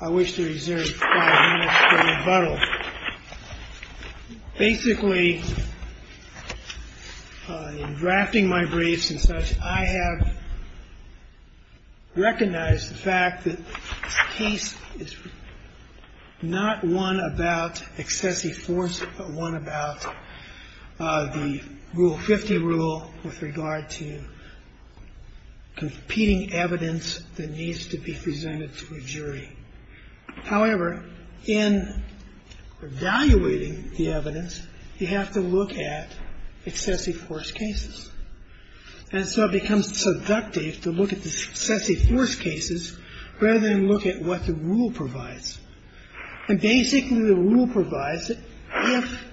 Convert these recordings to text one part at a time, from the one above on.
I wish to reserve five minutes for rebuttal. Basically, in drafting my briefs and such, I have recognized the fact that this case is not one about excessive force, but one about the Rule 50 rule with regard to competing evidence that needs to be presented to a jury. However, in evaluating the evidence, you have to look at excessive force cases. And so it becomes seductive to look at the excessive force cases rather than look at what the rule provides. And basically, the rule provides that if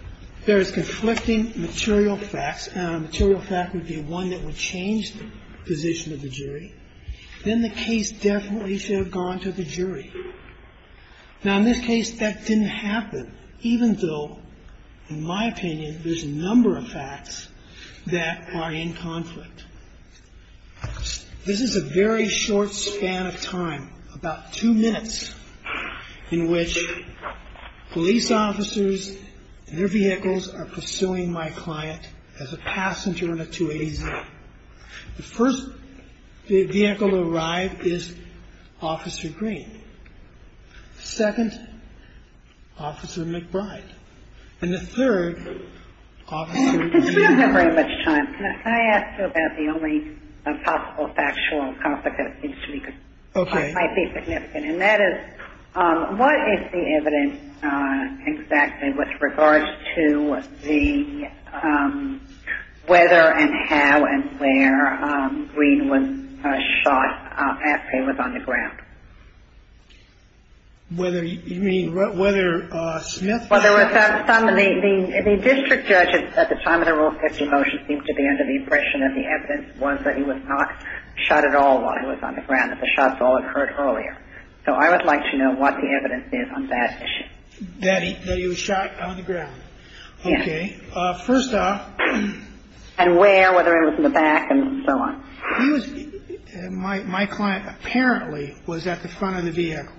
there is conflicting material facts, and a material fact would be one that would change the position of the jury, then the case definitely should have gone to the jury. Now, in this case, that didn't happen, even though, in my opinion, there's a number of facts that are in conflict. This is a very short span of time, about two minutes, in which police officers and their vehicles are pursuing my client as a passenger in a 280Z. The first vehicle to arrive is Officer Green. The second, Officer McBride. And the third, Officer Green. I don't have very much time. Can I ask you about the only possible factual conflict that might be significant? And that is, what is the evidence exactly with regards to the whether and how and where Green was shot after he was on the ground? Whether, you mean, whether Smith was shot? Well, there was some. The district judge at the time of the Rule 50 motion seemed to be under the impression that the evidence was that he was not shot at all while he was on the ground, that the shots all occurred earlier. So I would like to know what the evidence is on that issue. That he was shot on the ground. Yes. Okay. First off. And where, whether it was in the back and so on. My client apparently was at the front of the vehicle.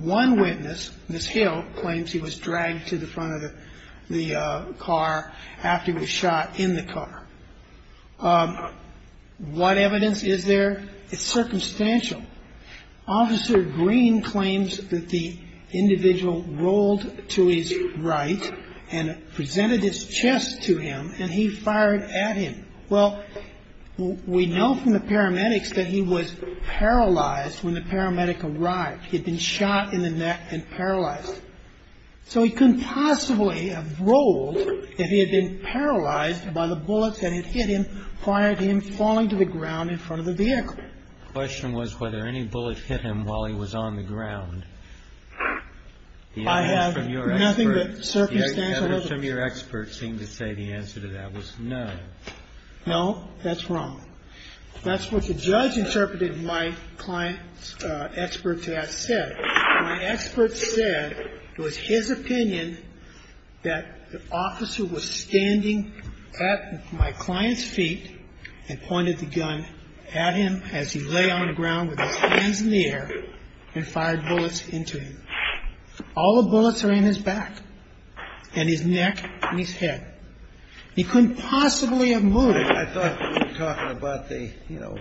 One witness, Ms. Hill, claims he was dragged to the front of the car after he was shot in the car. What evidence is there? It's circumstantial. Officer Green claims that the individual rolled to his right and presented his chest to him and he fired at him. Well, we know from the paramedics that he was paralyzed when the paramedic arrived. He'd been shot in the neck and paralyzed. So he couldn't possibly have rolled if he had been paralyzed by the bullets that had hit him, fired him falling to the ground in front of the vehicle. The question was whether any bullet hit him while he was on the ground. I have nothing but circumstantial evidence. The evidence from your expert seemed to say the answer to that was no. No, that's wrong. That's what the judge interpreted my client's expert to have said. My expert said it was his opinion that the officer was standing at my client's feet and pointed the gun at him as he lay on the ground with his hands in the air and fired bullets into him. All the bullets are in his back and his neck and his head. He couldn't possibly have moved. I thought you were talking about the, you know,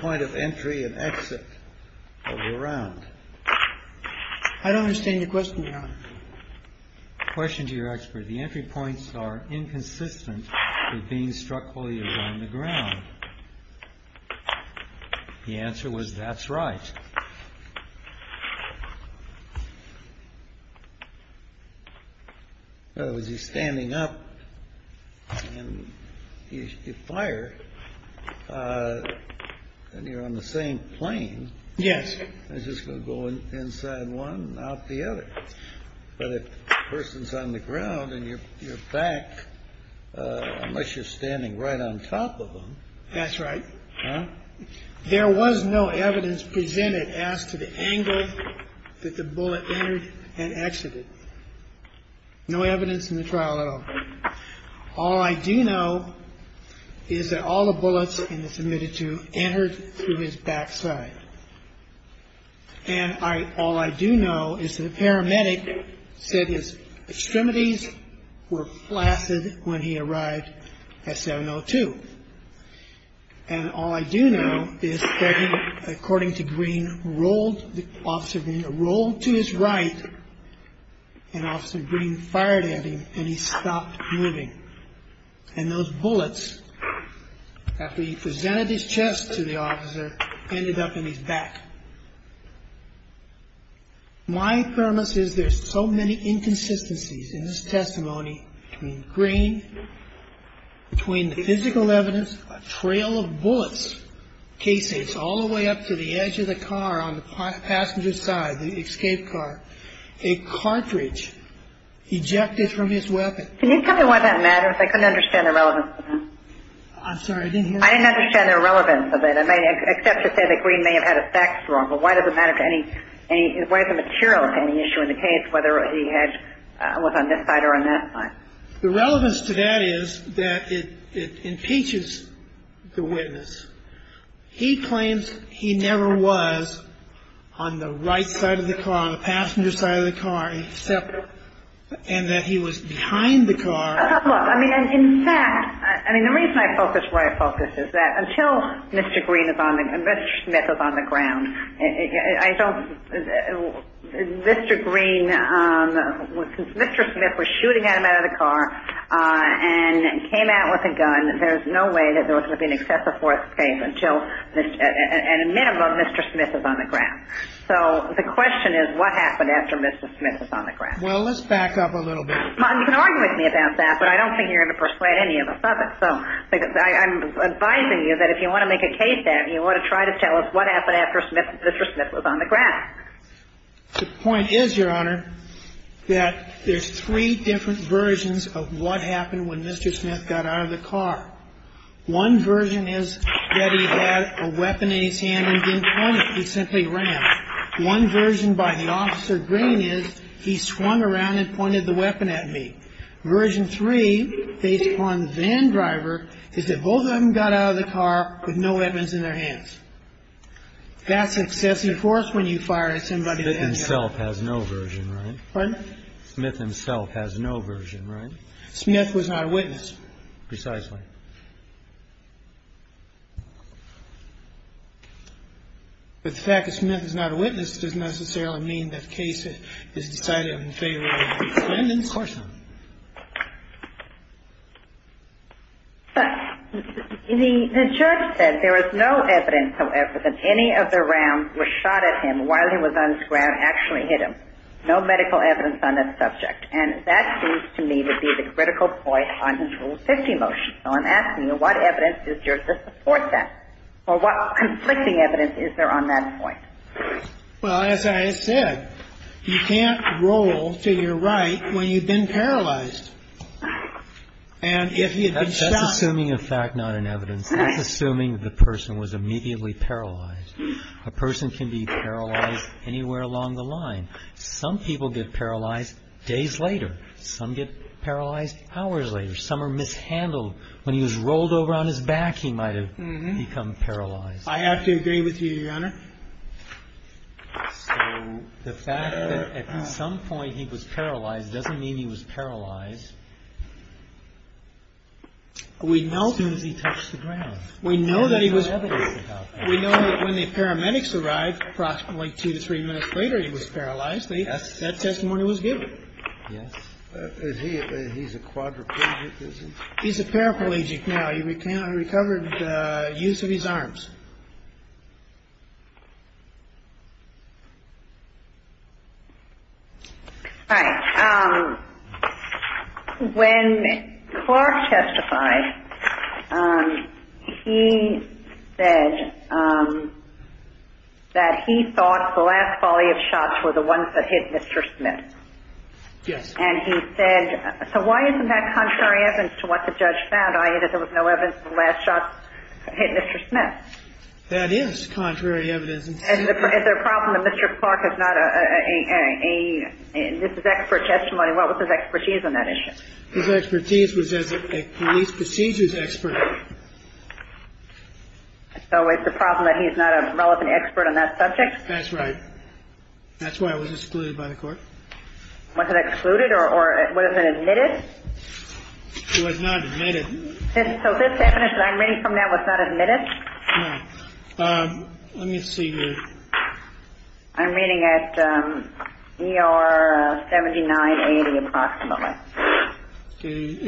point of entry and exit of the round. I don't understand your question, Your Honor. Question to your expert. The entry points are inconsistent with being struck fully around the ground. The answer was that's right. In other words, he's standing up and you fire and you're on the same plane. Yes. I was just going to go inside one, out the other. But if the person's on the ground and you're back, unless you're standing right on top of them. That's right. There was no evidence presented as to the angle that the bullet entered and exited. No evidence in the trial at all. All I do know is that all the bullets in the submitted to entered through his backside. And all I do know is that a paramedic said his extremities were flaccid when he arrived at 702. And all I do know is that he, according to Green, rolled the officer, rolled to his right. And also Green fired at him and he stopped moving. And those bullets that he presented his chest to the officer ended up in his back. My premise is there's so many inconsistencies in this testimony. Between Green, between the physical evidence, a trail of bullets, casings all the way up to the edge of the car on the passenger's side, the escape car, a cartridge ejected from his weapon. Can you tell me why that matters? I couldn't understand the relevance of that. I'm sorry, I didn't hear you. I didn't understand the relevance of it. I may accept to say that Green may have had effects wrong. But why does it matter to any, why is it material to any issue in the case whether he had, was on this side or on that side? The relevance to that is that it impeaches the witness. He claims he never was on the right side of the car, on the passenger's side of the car, except, and that he was behind the car. Well, look, I mean, in fact, I mean, the reason I focus where I focus is that until Mr. Green is on the, Mr. Smith is on the ground, I don't, Mr. Green, Mr. Smith was shooting at him out of the car and came out with a gun. There's no way that there was going to be an excessive force case until, at a minimum, Mr. Smith is on the ground. So the question is what happened after Mr. Smith was on the ground? Well, let's back up a little bit. You can argue with me about that, but I don't think you're going to persuade any of us of it. So I'm advising you that if you want to make a case, then you ought to try to tell us what happened after Mr. Smith was on the ground. The point is, Your Honor, that there's three different versions of what happened when Mr. Smith got out of the car. One version is that he had a weapon in his hand and didn't point. He simply ran. One version by the officer, Green, is he swung around and pointed the weapon at me. Version three, based upon van driver, is that both of them got out of the car with no weapons in their hands. That's excessive force when you fire at somebody. Smith himself has no version, right? Pardon? Smith himself has no version, right? Smith was not a witness. Precisely. But the fact that Smith is not a witness doesn't necessarily mean that the case is decided in favor of Smith. Of course not. The judge said there is no evidence, however, that any of the rounds were shot at him while he was on the ground actually hit him. No medical evidence on that subject. And that seems to me to be the critical point on this Rule 50 motion. So I'm asking you, what evidence is there to support that? Or what conflicting evidence is there on that point? Well, as I said, you can't roll to your right when you've been paralyzed. And if you've been shot. That's assuming a fact, not an evidence. That's assuming the person was immediately paralyzed. A person can be paralyzed anywhere along the line. Some people get paralyzed days later. Some get paralyzed hours later. Some are mishandled. When he was rolled over on his back, he might have become paralyzed. I have to agree with you, Your Honor. So the fact that at some point he was paralyzed doesn't mean he was paralyzed as soon as he touched the ground. We know that he was. We know that when the paramedics arrived approximately two to three minutes later, he was paralyzed. That testimony was given. Yes. He's a quadriplegic. He's a paraplegic now. He can't recover the use of his arms. All right. When Clark testified, he said that he thought the last volley of shots were the ones that hit Mr. Smith. Yes. And he said, so why isn't that contrary evidence to what the judge found, i.e., that there was no evidence the last shots hit Mr. Smith? That is. That is contrary evidence. Is there a problem that Mr. Clark is not a – this is expert testimony. What was his expertise on that issue? His expertise was as a police procedures expert. So it's a problem that he's not a relevant expert on that subject? That's right. That's why it was excluded by the court. Was it excluded or was it admitted? It was not admitted. So this evidence that I'm reading from that was not admitted? No. Let me see your – I'm reading at ER 7980 approximately.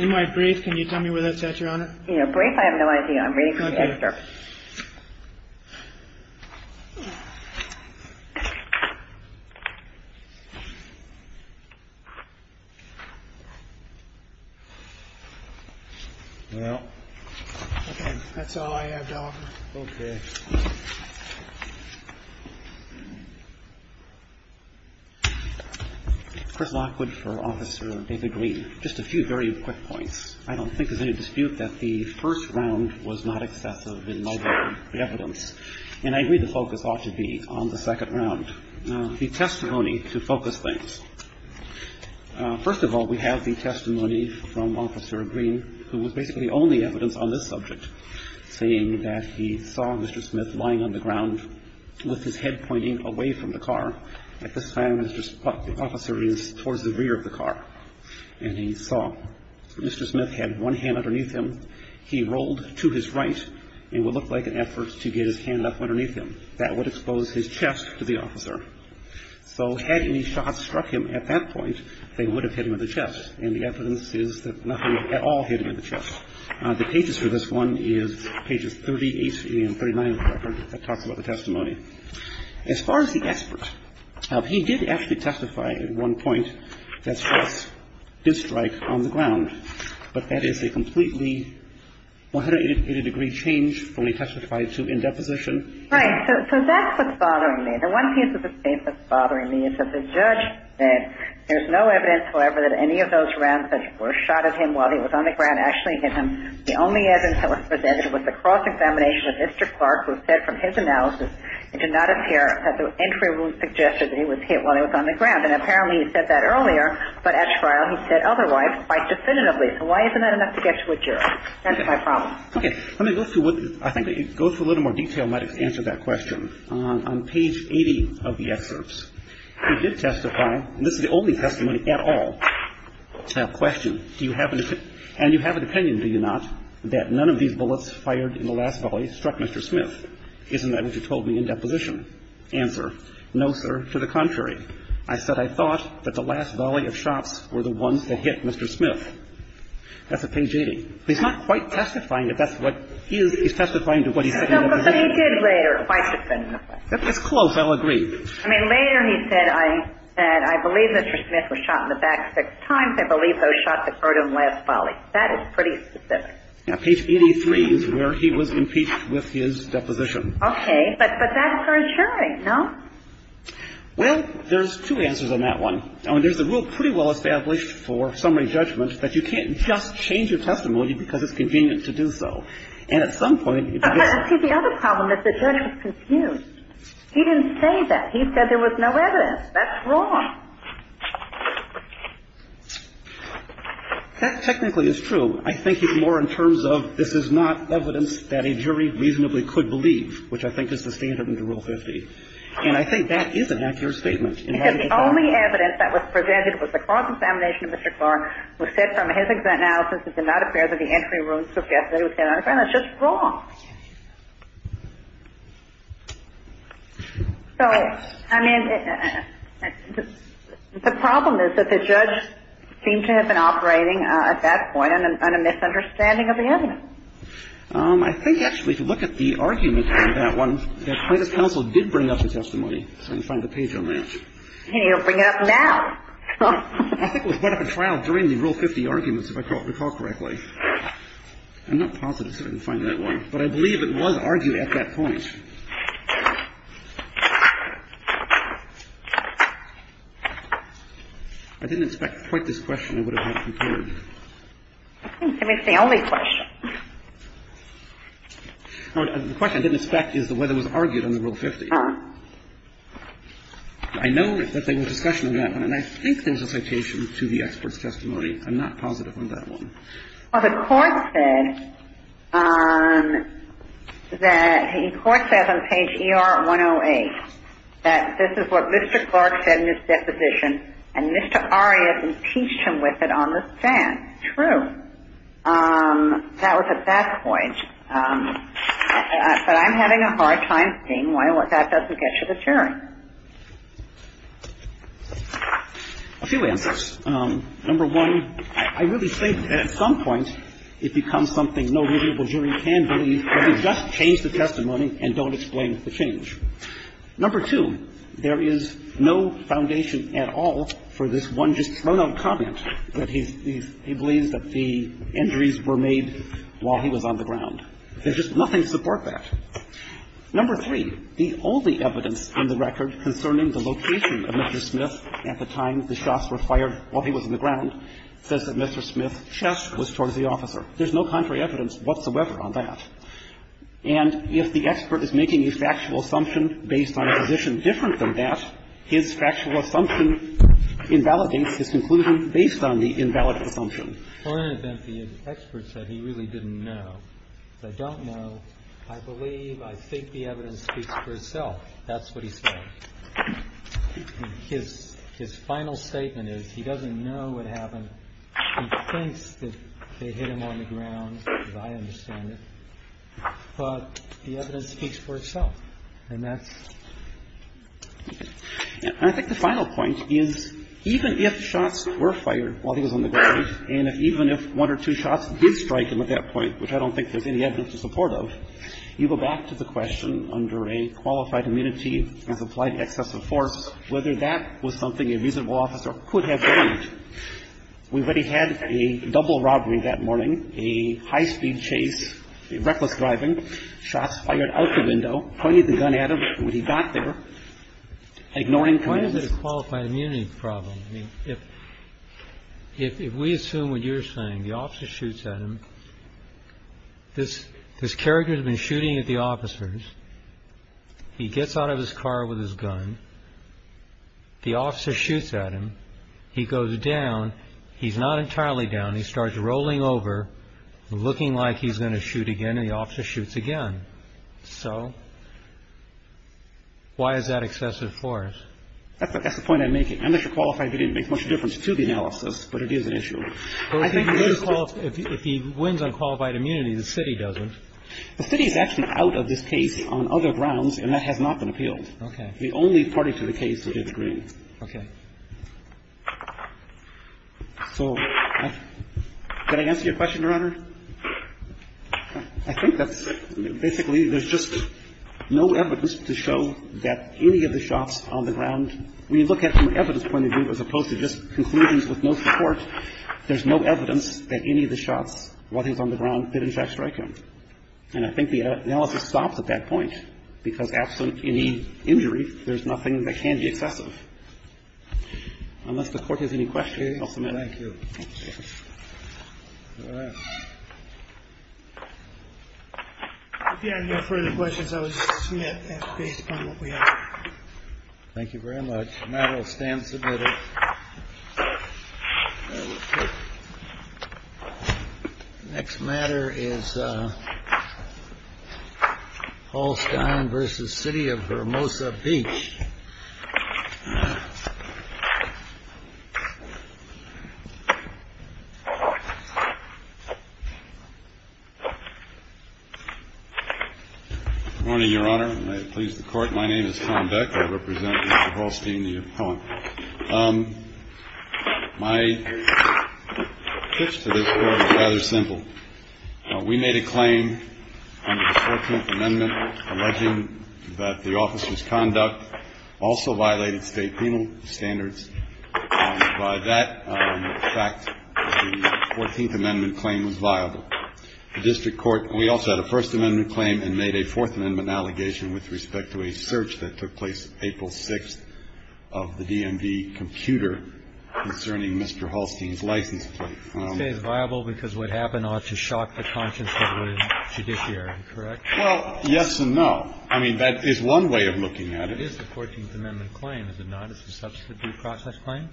In my brief, can you tell me where that's at, Your Honor? Brief? I have no idea. I'm reading from the excerpt. Okay. Well, that's all I have to offer. Okay. Chris Lockwood for Officer David Green. Just a few very quick points. I don't think there's any dispute that the first round was not excessive in level of evidence. And I agree the focus ought to be on the second round. The testimony to focus things. First of all, we have the testimony from Officer Green, who was basically the only evidence on this subject, saying that he saw Mr. Smith lying on the ground with his head pointing away from the car. At this time, the officer is towards the rear of the car. And he saw Mr. Smith had one hand underneath him. He rolled to his right. It would look like an effort to get his hand up underneath him. That would expose his chest to the officer. So had any shots struck him at that point, they would have hit him in the chest. And the evidence is that nothing at all hit him in the chest. The pages for this one is pages 38 and 39 of the record that talks about the testimony. As far as the expert, he did actually testify at one point that shots did strike on the ground. But that is a completely 180-degree change from a testified to in deposition. Right. So that's what's bothering me. And one piece of the case that's bothering me is that the judge said there's no evidence, however, that any of those rounds that were shot at him while he was on the ground actually hit him. The only evidence that was presented was the cross-examination of Mr. Clark, who said from his analysis it did not appear that the entry wound suggested that he was hit while he was on the ground. And apparently he said that earlier, but at trial he said otherwise quite definitively. So why isn't that enough to get to a jury? That's my problem. Okay. Let me go through what I think. It goes through a little more detail. I might have to answer that question. On page 80 of the excerpts, he did testify, and this is the only testimony at all, that question, do you have an opinion? And you have an opinion, do you not, that none of these bullets fired in the last volley struck Mr. Smith? Isn't that what you told me in deposition? Answer, no, sir, to the contrary. I said I thought that the last volley of shots were the ones that hit Mr. Smith. That's at page 80. He's not quite testifying that that's what he is. He's testifying to what he said in deposition. No, but he did later, quite definitively. That's close. I'll agree. I mean, later he said, I believe that Mr. Smith was shot in the back six times. I believe those shots occurred in the last volley. That is pretty specific. Page 83 is where he was impeached with his deposition. Okay. But that's for a jury, no? Well, there's two answers on that one. There's a rule pretty well established for summary judgment that you can't just change your testimony because it's convenient to do so. And at some point you can just ---- But see, the other problem is the jury was confused. He didn't say that. He said there was no evidence. That's wrong. That technically is true. I think it's more in terms of this is not evidence that a jury reasonably could believe, which I think is the standard under Rule 50. And I think that is an accurate statement. Because the only evidence that was presented was the cross-examination of Mr. Clark who said from his exact analysis it did not appear that the entry rooms suggested that there was any evidence. That's just wrong. So, I mean, the problem is that the judge seemed to have been operating at that point on a misunderstanding of the evidence. I think actually if you look at the argument on that one, the plaintiff's counsel did bring up the testimony. Let me find the page real quick. He'll bring it up now. I think it was brought up at trial during the Rule 50 arguments, if I recall correctly. I'm not positive, so I didn't find that one. But I believe it was argued at that point. I didn't expect quite this question. I would have had it prepared. I think it's the only question. The question I didn't expect is the way it was argued under Rule 50. I know that there was discussion on that one, and I think there's a citation to the expert's testimony. I'm not positive on that one. Well, the Court said that the Court says on page ER-108 that this is what Mr. Clark said in his deposition, and Mr. Arias impeached him with it on the stand. True. That was at that point. But I'm having a hard time seeing why that doesn't get you the hearing. A few answers. Number one, I really think at some point it becomes something no reasonable jury can believe if you just change the testimony and don't explain the change. Number two, there is no foundation at all for this one just thrown-out comment that he believes that the injuries were made while he was on the ground. There's just nothing to support that. Number three, the only evidence on the record concerning the location of Mr. Smith at the time the shots were fired while he was on the ground says that Mr. Smith's chest was towards the officer. There's no contrary evidence whatsoever on that. And if the expert is making a factual assumption based on a position different from that, his factual assumption invalidates his conclusion based on the invalid assumption. Well, in an event, the expert said he really didn't know. I don't know. I believe, I think the evidence speaks for itself. That's what he said. His final statement is he doesn't know what happened. He thinks that they hit him on the ground, as I understand it. But the evidence speaks for itself. And that's it. And I think the final point is even if shots were fired while he was on the ground and even if one or two shots did strike him at that point, which I don't think there's any evidence to support of, you go back to the question under a qualified immunity as applied excessive force, whether that was something a reasonable officer could have done. We've already had a double robbery that morning, a high-speed chase, reckless driving, shots fired out the window, pointed the gun at him when he got there, ignoring commands. Why is it a qualified immunity problem? I mean, if we assume what you're saying, the officer shoots at him. This character has been shooting at the officers. He gets out of his car with his gun. The officer shoots at him. He goes down. He's not entirely down. He starts rolling over, looking like he's going to shoot again, and the officer shoots again. So why is that excessive force? That's the point I'm making. Unless you're qualified, it doesn't make much difference to the analysis, but it is an issue. If he wins on qualified immunity, the city doesn't. The city is actually out of this case on other grounds, and that has not been appealed. Okay. The only party to the case to disagree. Okay. So can I answer your question, Your Honor? I think that's basically there's just no evidence to show that any of the shots on the ground when you look at it from an evidence point of view as opposed to just conclusions with no support, there's no evidence that any of the shots, what is on the ground, did in fact strike him. And I think the analysis stops at that point, because absent any injury, there's nothing that can be excessive. Unless the Court has any questions. Thank you. All right. If you have no further questions, I will just submit based upon what we have. Thank you very much. The matter will stand submitted. OK. Next matter is Hallstein versus city of Hermosa Beach. Morning, Your Honor. May it please the court. My name is Tom Beck. I represent Mr. Hallstein, the appellant. My pitch to this court is rather simple. We made a claim under the 14th Amendment alleging that the officer's conduct also violated state penal standards. By that fact, the 14th Amendment claim was viable. The district court, we also had a First Amendment claim and made a Fourth Amendment allegation with respect to a search that took place April 6th of the DMV computer concerning Mr. Hallstein's license plate. You say it's viable because what happened ought to shock the conscience of the judiciary, correct? Well, yes and no. I mean, that is one way of looking at it. It is the 14th Amendment claim, is it not? It's a substitute process claim?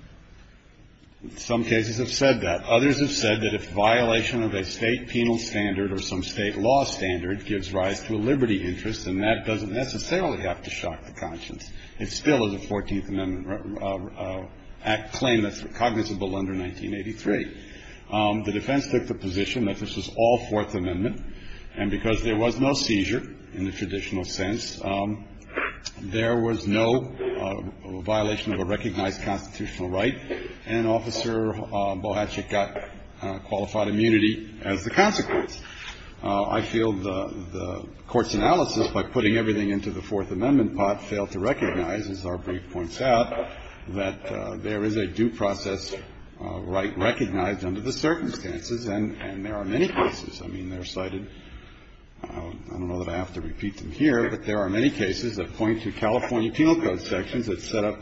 Some cases have said that. Others have said that if violation of a state penal standard or some state law standard gives rise to a liberty interest, and that doesn't necessarily have to shock the conscience. It still is a 14th Amendment claim that's cognizable under 1983. The defense took the position that this was all Fourth Amendment. And because there was no seizure in the traditional sense, there was no violation of a recognized constitutional right. And Officer Bohatchik got qualified immunity as the consequence. I feel the Court's analysis, by putting everything into the Fourth Amendment pot, failed to recognize, as our brief points out, that there is a due process right recognized under the circumstances, and there are many cases. I mean, they're cited. I don't know that I have to repeat them here, but there are many cases that point to California Penal Code to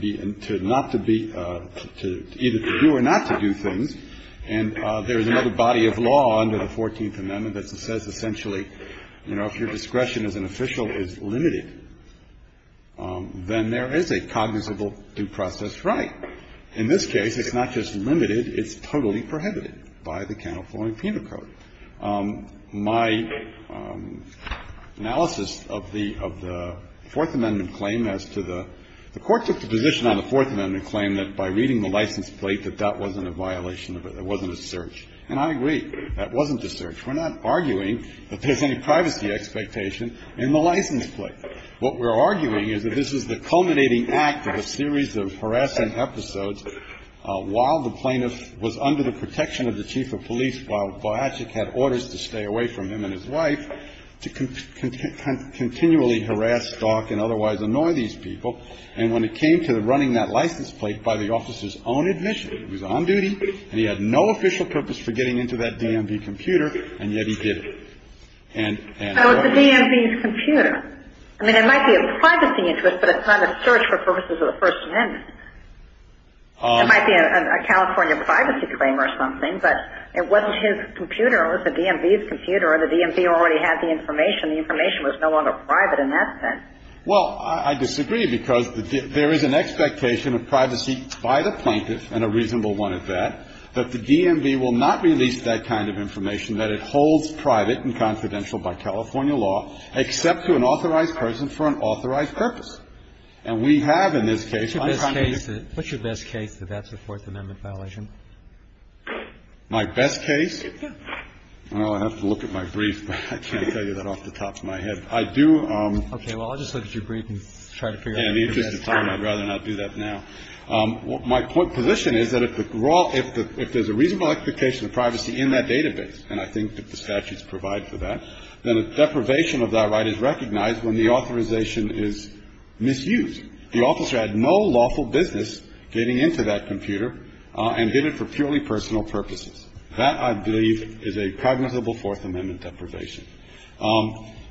be, to not to be, to either to do or not to do things. And there is another body of law under the 14th Amendment that says essentially, you know, if your discretion as an official is limited, then there is a cognizable due process right. In this case, it's not just limited. It's totally prohibited by the California Penal Code. My analysis of the Fourth Amendment claim as to the – the Court took the position on the Fourth Amendment claim that by reading the license plate, that that wasn't a violation of it. It wasn't a search. And I agree. That wasn't a search. We're not arguing that there's any privacy expectation in the license plate. What we're arguing is that this is the culminating act of a series of harassing episodes while the plaintiff was under the protection of the chief of police, while Biatchik had orders to stay away from him and his wife, to continually harass, stalk, and otherwise annoy these people. And when it came to running that license plate by the officer's own admission, he was on duty, and he had no official purpose for getting into that DMV computer, and yet he did it. And – So it's the DMV's computer. I mean, it might be of privacy interest, but it's not a search for purposes of the First Amendment. It might be a California privacy claim or something, but it wasn't his computer. It was the DMV's computer, and the DMV already had the information. The information was no longer private in that sense. Well, I disagree, because there is an expectation of privacy by the plaintiff, and a reasonable one at that, that the DMV will not release that kind of information, that it holds private and confidential by California law, except to an authorized person for an authorized purpose. And we have in this case unconfidential – What's your best case that that's a Fourth Amendment violation? My best case? Well, I'll have to look at my brief, but I can't tell you that off the top of my head. I do – Okay. Well, I'll just look at your brief and try to figure out – Yeah, in the interest of time, I'd rather not do that now. My position is that if the – if there's a reasonable expectation of privacy in that database, and I think that the statutes provide for that, then a deprivation of that right is recognized when the authorization is misused. The officer had no lawful business getting into that computer and did it for purely personal purposes. That, I believe, is a cognizable Fourth Amendment deprivation.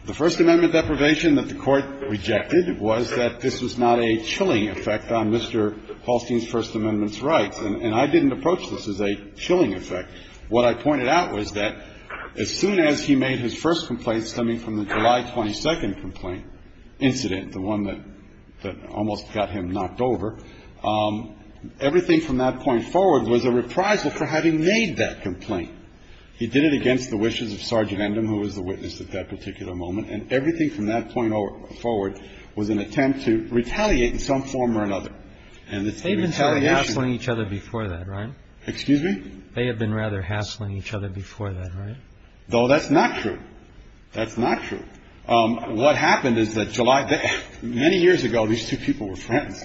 The First Amendment deprivation that the Court rejected was that this was not a chilling effect on Mr. Hallstein's First Amendment's rights. And I didn't approach this as a chilling effect. What I pointed out was that as soon as he made his first complaint, stemming from the July 22nd complaint incident, the one that almost got him knocked over, everything from that point forward was a reprisal for having made that complaint. He did it against the wishes of Sergeant Endham, who was the witness at that particular moment, and everything from that point forward was an attempt to retaliate in some form or another. And the retaliation – They've been sort of hassling each other before that, right? Excuse me? They have been rather hassling each other before that, right? No, that's not true. That's not true. What happened is that July – many years ago, these two people were friends.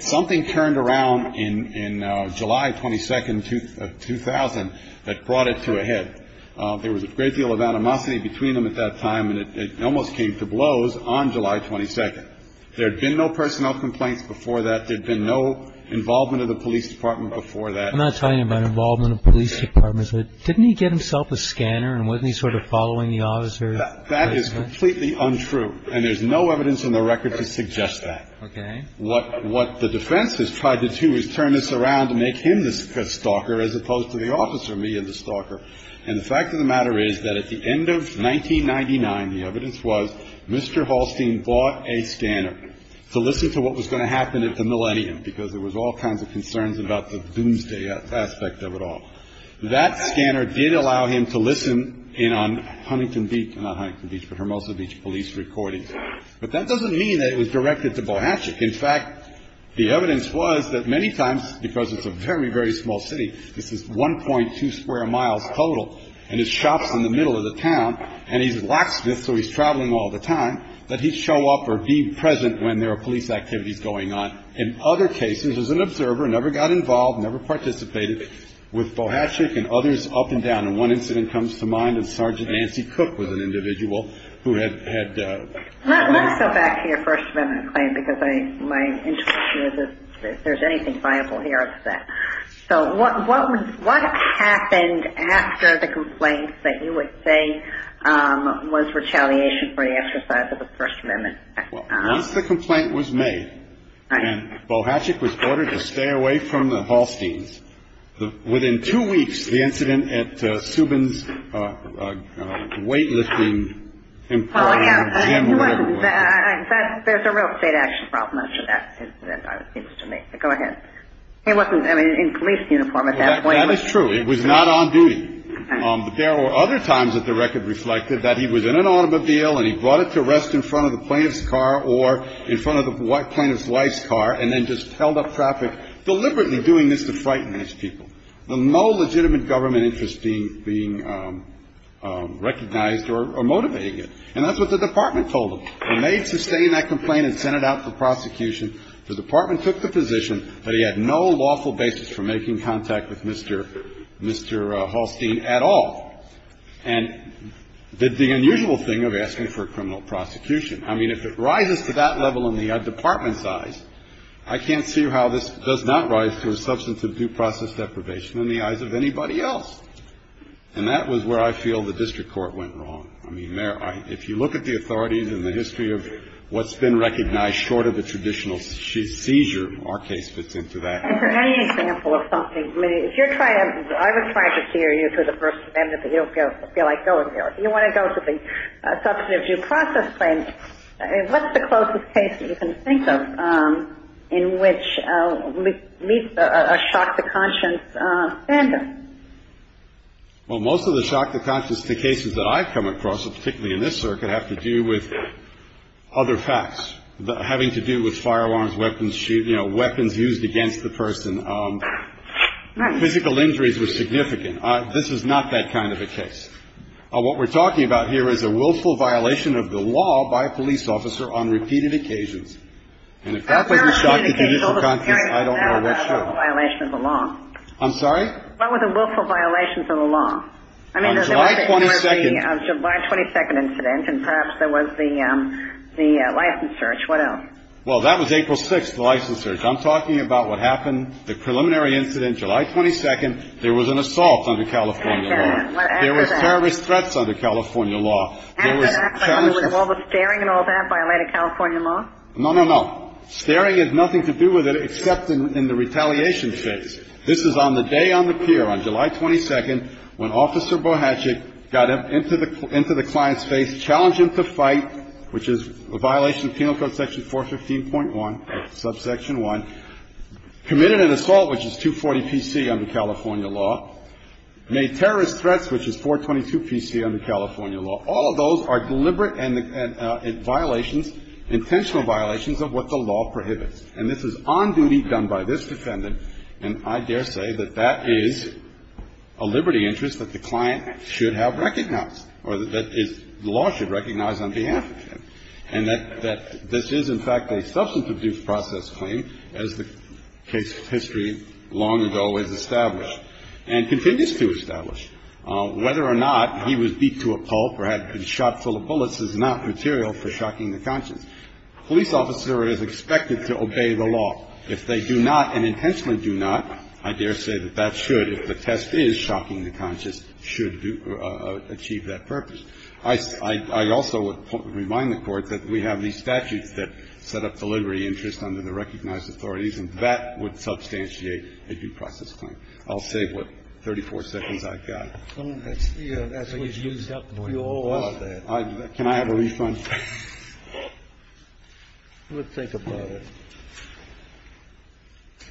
Something turned around in July 22nd, 2000, that brought it to a head. There was a great deal of animosity between them at that time, and it almost came to blows on July 22nd. There had been no personnel complaints before that. There had been no involvement of the police department before that. I'm not talking about involvement of police departments. Didn't he get himself a scanner and wasn't he sort of following the officer? That is completely untrue, and there's no evidence in the record to suggest that. Okay. What the defense has tried to do is turn this around and make him the stalker as opposed to the officer being the stalker. And the fact of the matter is that at the end of 1999, the evidence was Mr. Halstein bought a scanner to listen to what was going to happen at the Millennium, because there was all kinds of concerns about the doomsday aspect of it all. That scanner did allow him to listen in on Huntington Beach – not Huntington Beach, but Hermosa Beach police recordings. But that doesn't mean that it was directed to Bohatnik. In fact, the evidence was that many times, because it's a very, very small city – this is 1.2 square miles total, and his shop's in the middle of the town, and he's a locksmith, so he's traveling all the time – that he'd show up or be present when there were police activities going on. In other cases, as an observer, never got involved, never participated with Bohatnik and others up and down. And one incident comes to mind, and Sergeant Nancy Cook was an individual who had – Let's go back to your First Amendment claim, because my intuition is that if there's anything viable here, it's that. So what happened after the complaints that you would say was retaliation for the exercise of the First Amendment? Well, once the complaint was made and Bohatnik was ordered to stay away from the Halsteins, within two weeks, the incident at Subin's weightlifting gym or whatever – There's a real state action problem after that incident, it seems to me. Go ahead. He wasn't in police uniform at that point. That is true. It was not on duty. But there were other times that the record reflected that he was in an automobile and he brought it to rest in front of the plaintiff's car or in front of the plaintiff's wife's car and then just held up traffic, deliberately doing this to frighten these people. No legitimate government interest being recognized or motivating it. And that's what the department told them. They made – sustained that complaint and sent it out for prosecution. The department took the position that he had no lawful basis for making contact with Mr. Halstein at all. And the unusual thing of asking for a criminal prosecution, I mean, if it rises to that level in the department's eyes, I can't see how this does not rise to a substance of due process deprivation in the eyes of anybody else. And that was where I feel the district court went wrong. I mean, if you look at the authorities and the history of what's been recognized short of a traditional seizure, our case fits into that. And for any example of something, I mean, if you're trying to – I would try to steer you to the first amendment, but you don't feel like going there. You want to go to the substance of due process claim. What's the closest case that you can think of in which meets a shock-to-conscience standard? Well, most of the shock-to-conscience cases that I've come across, particularly in this circuit, have to do with other facts, having to do with firearms, weapons used against the person. Physical injuries were significant. This is not that kind of a case. What we're talking about here is a willful violation of the law by a police officer on repeated occasions. And if that wasn't shock-to-judicial conscience, I don't know what should. That was a willful violation of the law. I'm sorry? That was a willful violation of the law. On July 22nd. I mean, there was the July 22nd incident, and perhaps there was the license search. What else? Well, that was April 6th, the license search. I'm talking about what happened, the preliminary incident, July 22nd. There was an assault under California law. There was terrorist threats under California law. After that, all the staring and all that violated California law? No, no, no. Staring has nothing to do with it except in the retaliation phase. This is on the day on the pier on July 22nd when Officer Bohatchik got into the client's face, challenged him to fight, which is a violation of Penal Code section 415.1, subsection 1, committed an assault, which is 240pc under California law, made terrorist threats, which is 422pc under California law. All of those are deliberate violations, intentional violations of what the law prohibits. And this is on duty done by this defendant, and I daresay that that is a liberty that the client should have recognized or that the law should recognize on behalf of him, and that this is, in fact, a substance abuse process claim, as the case of history long and always established and continues to establish. Whether or not he was beat to a pulp or had been shot full of bullets is not material for shocking the conscience. A police officer is expected to obey the law. If they do not and intentionally do not, I daresay that that should, if the test is shocking the conscience, should achieve that purpose. I also would remind the Court that we have these statutes that set up the liberty interest under the recognized authorities, and that would substantiate a due process claim. I'll save what, 34 seconds I've got. Scalia. That's what's used up for you all out there. Can I have a refund? We'll think about it. Thank you.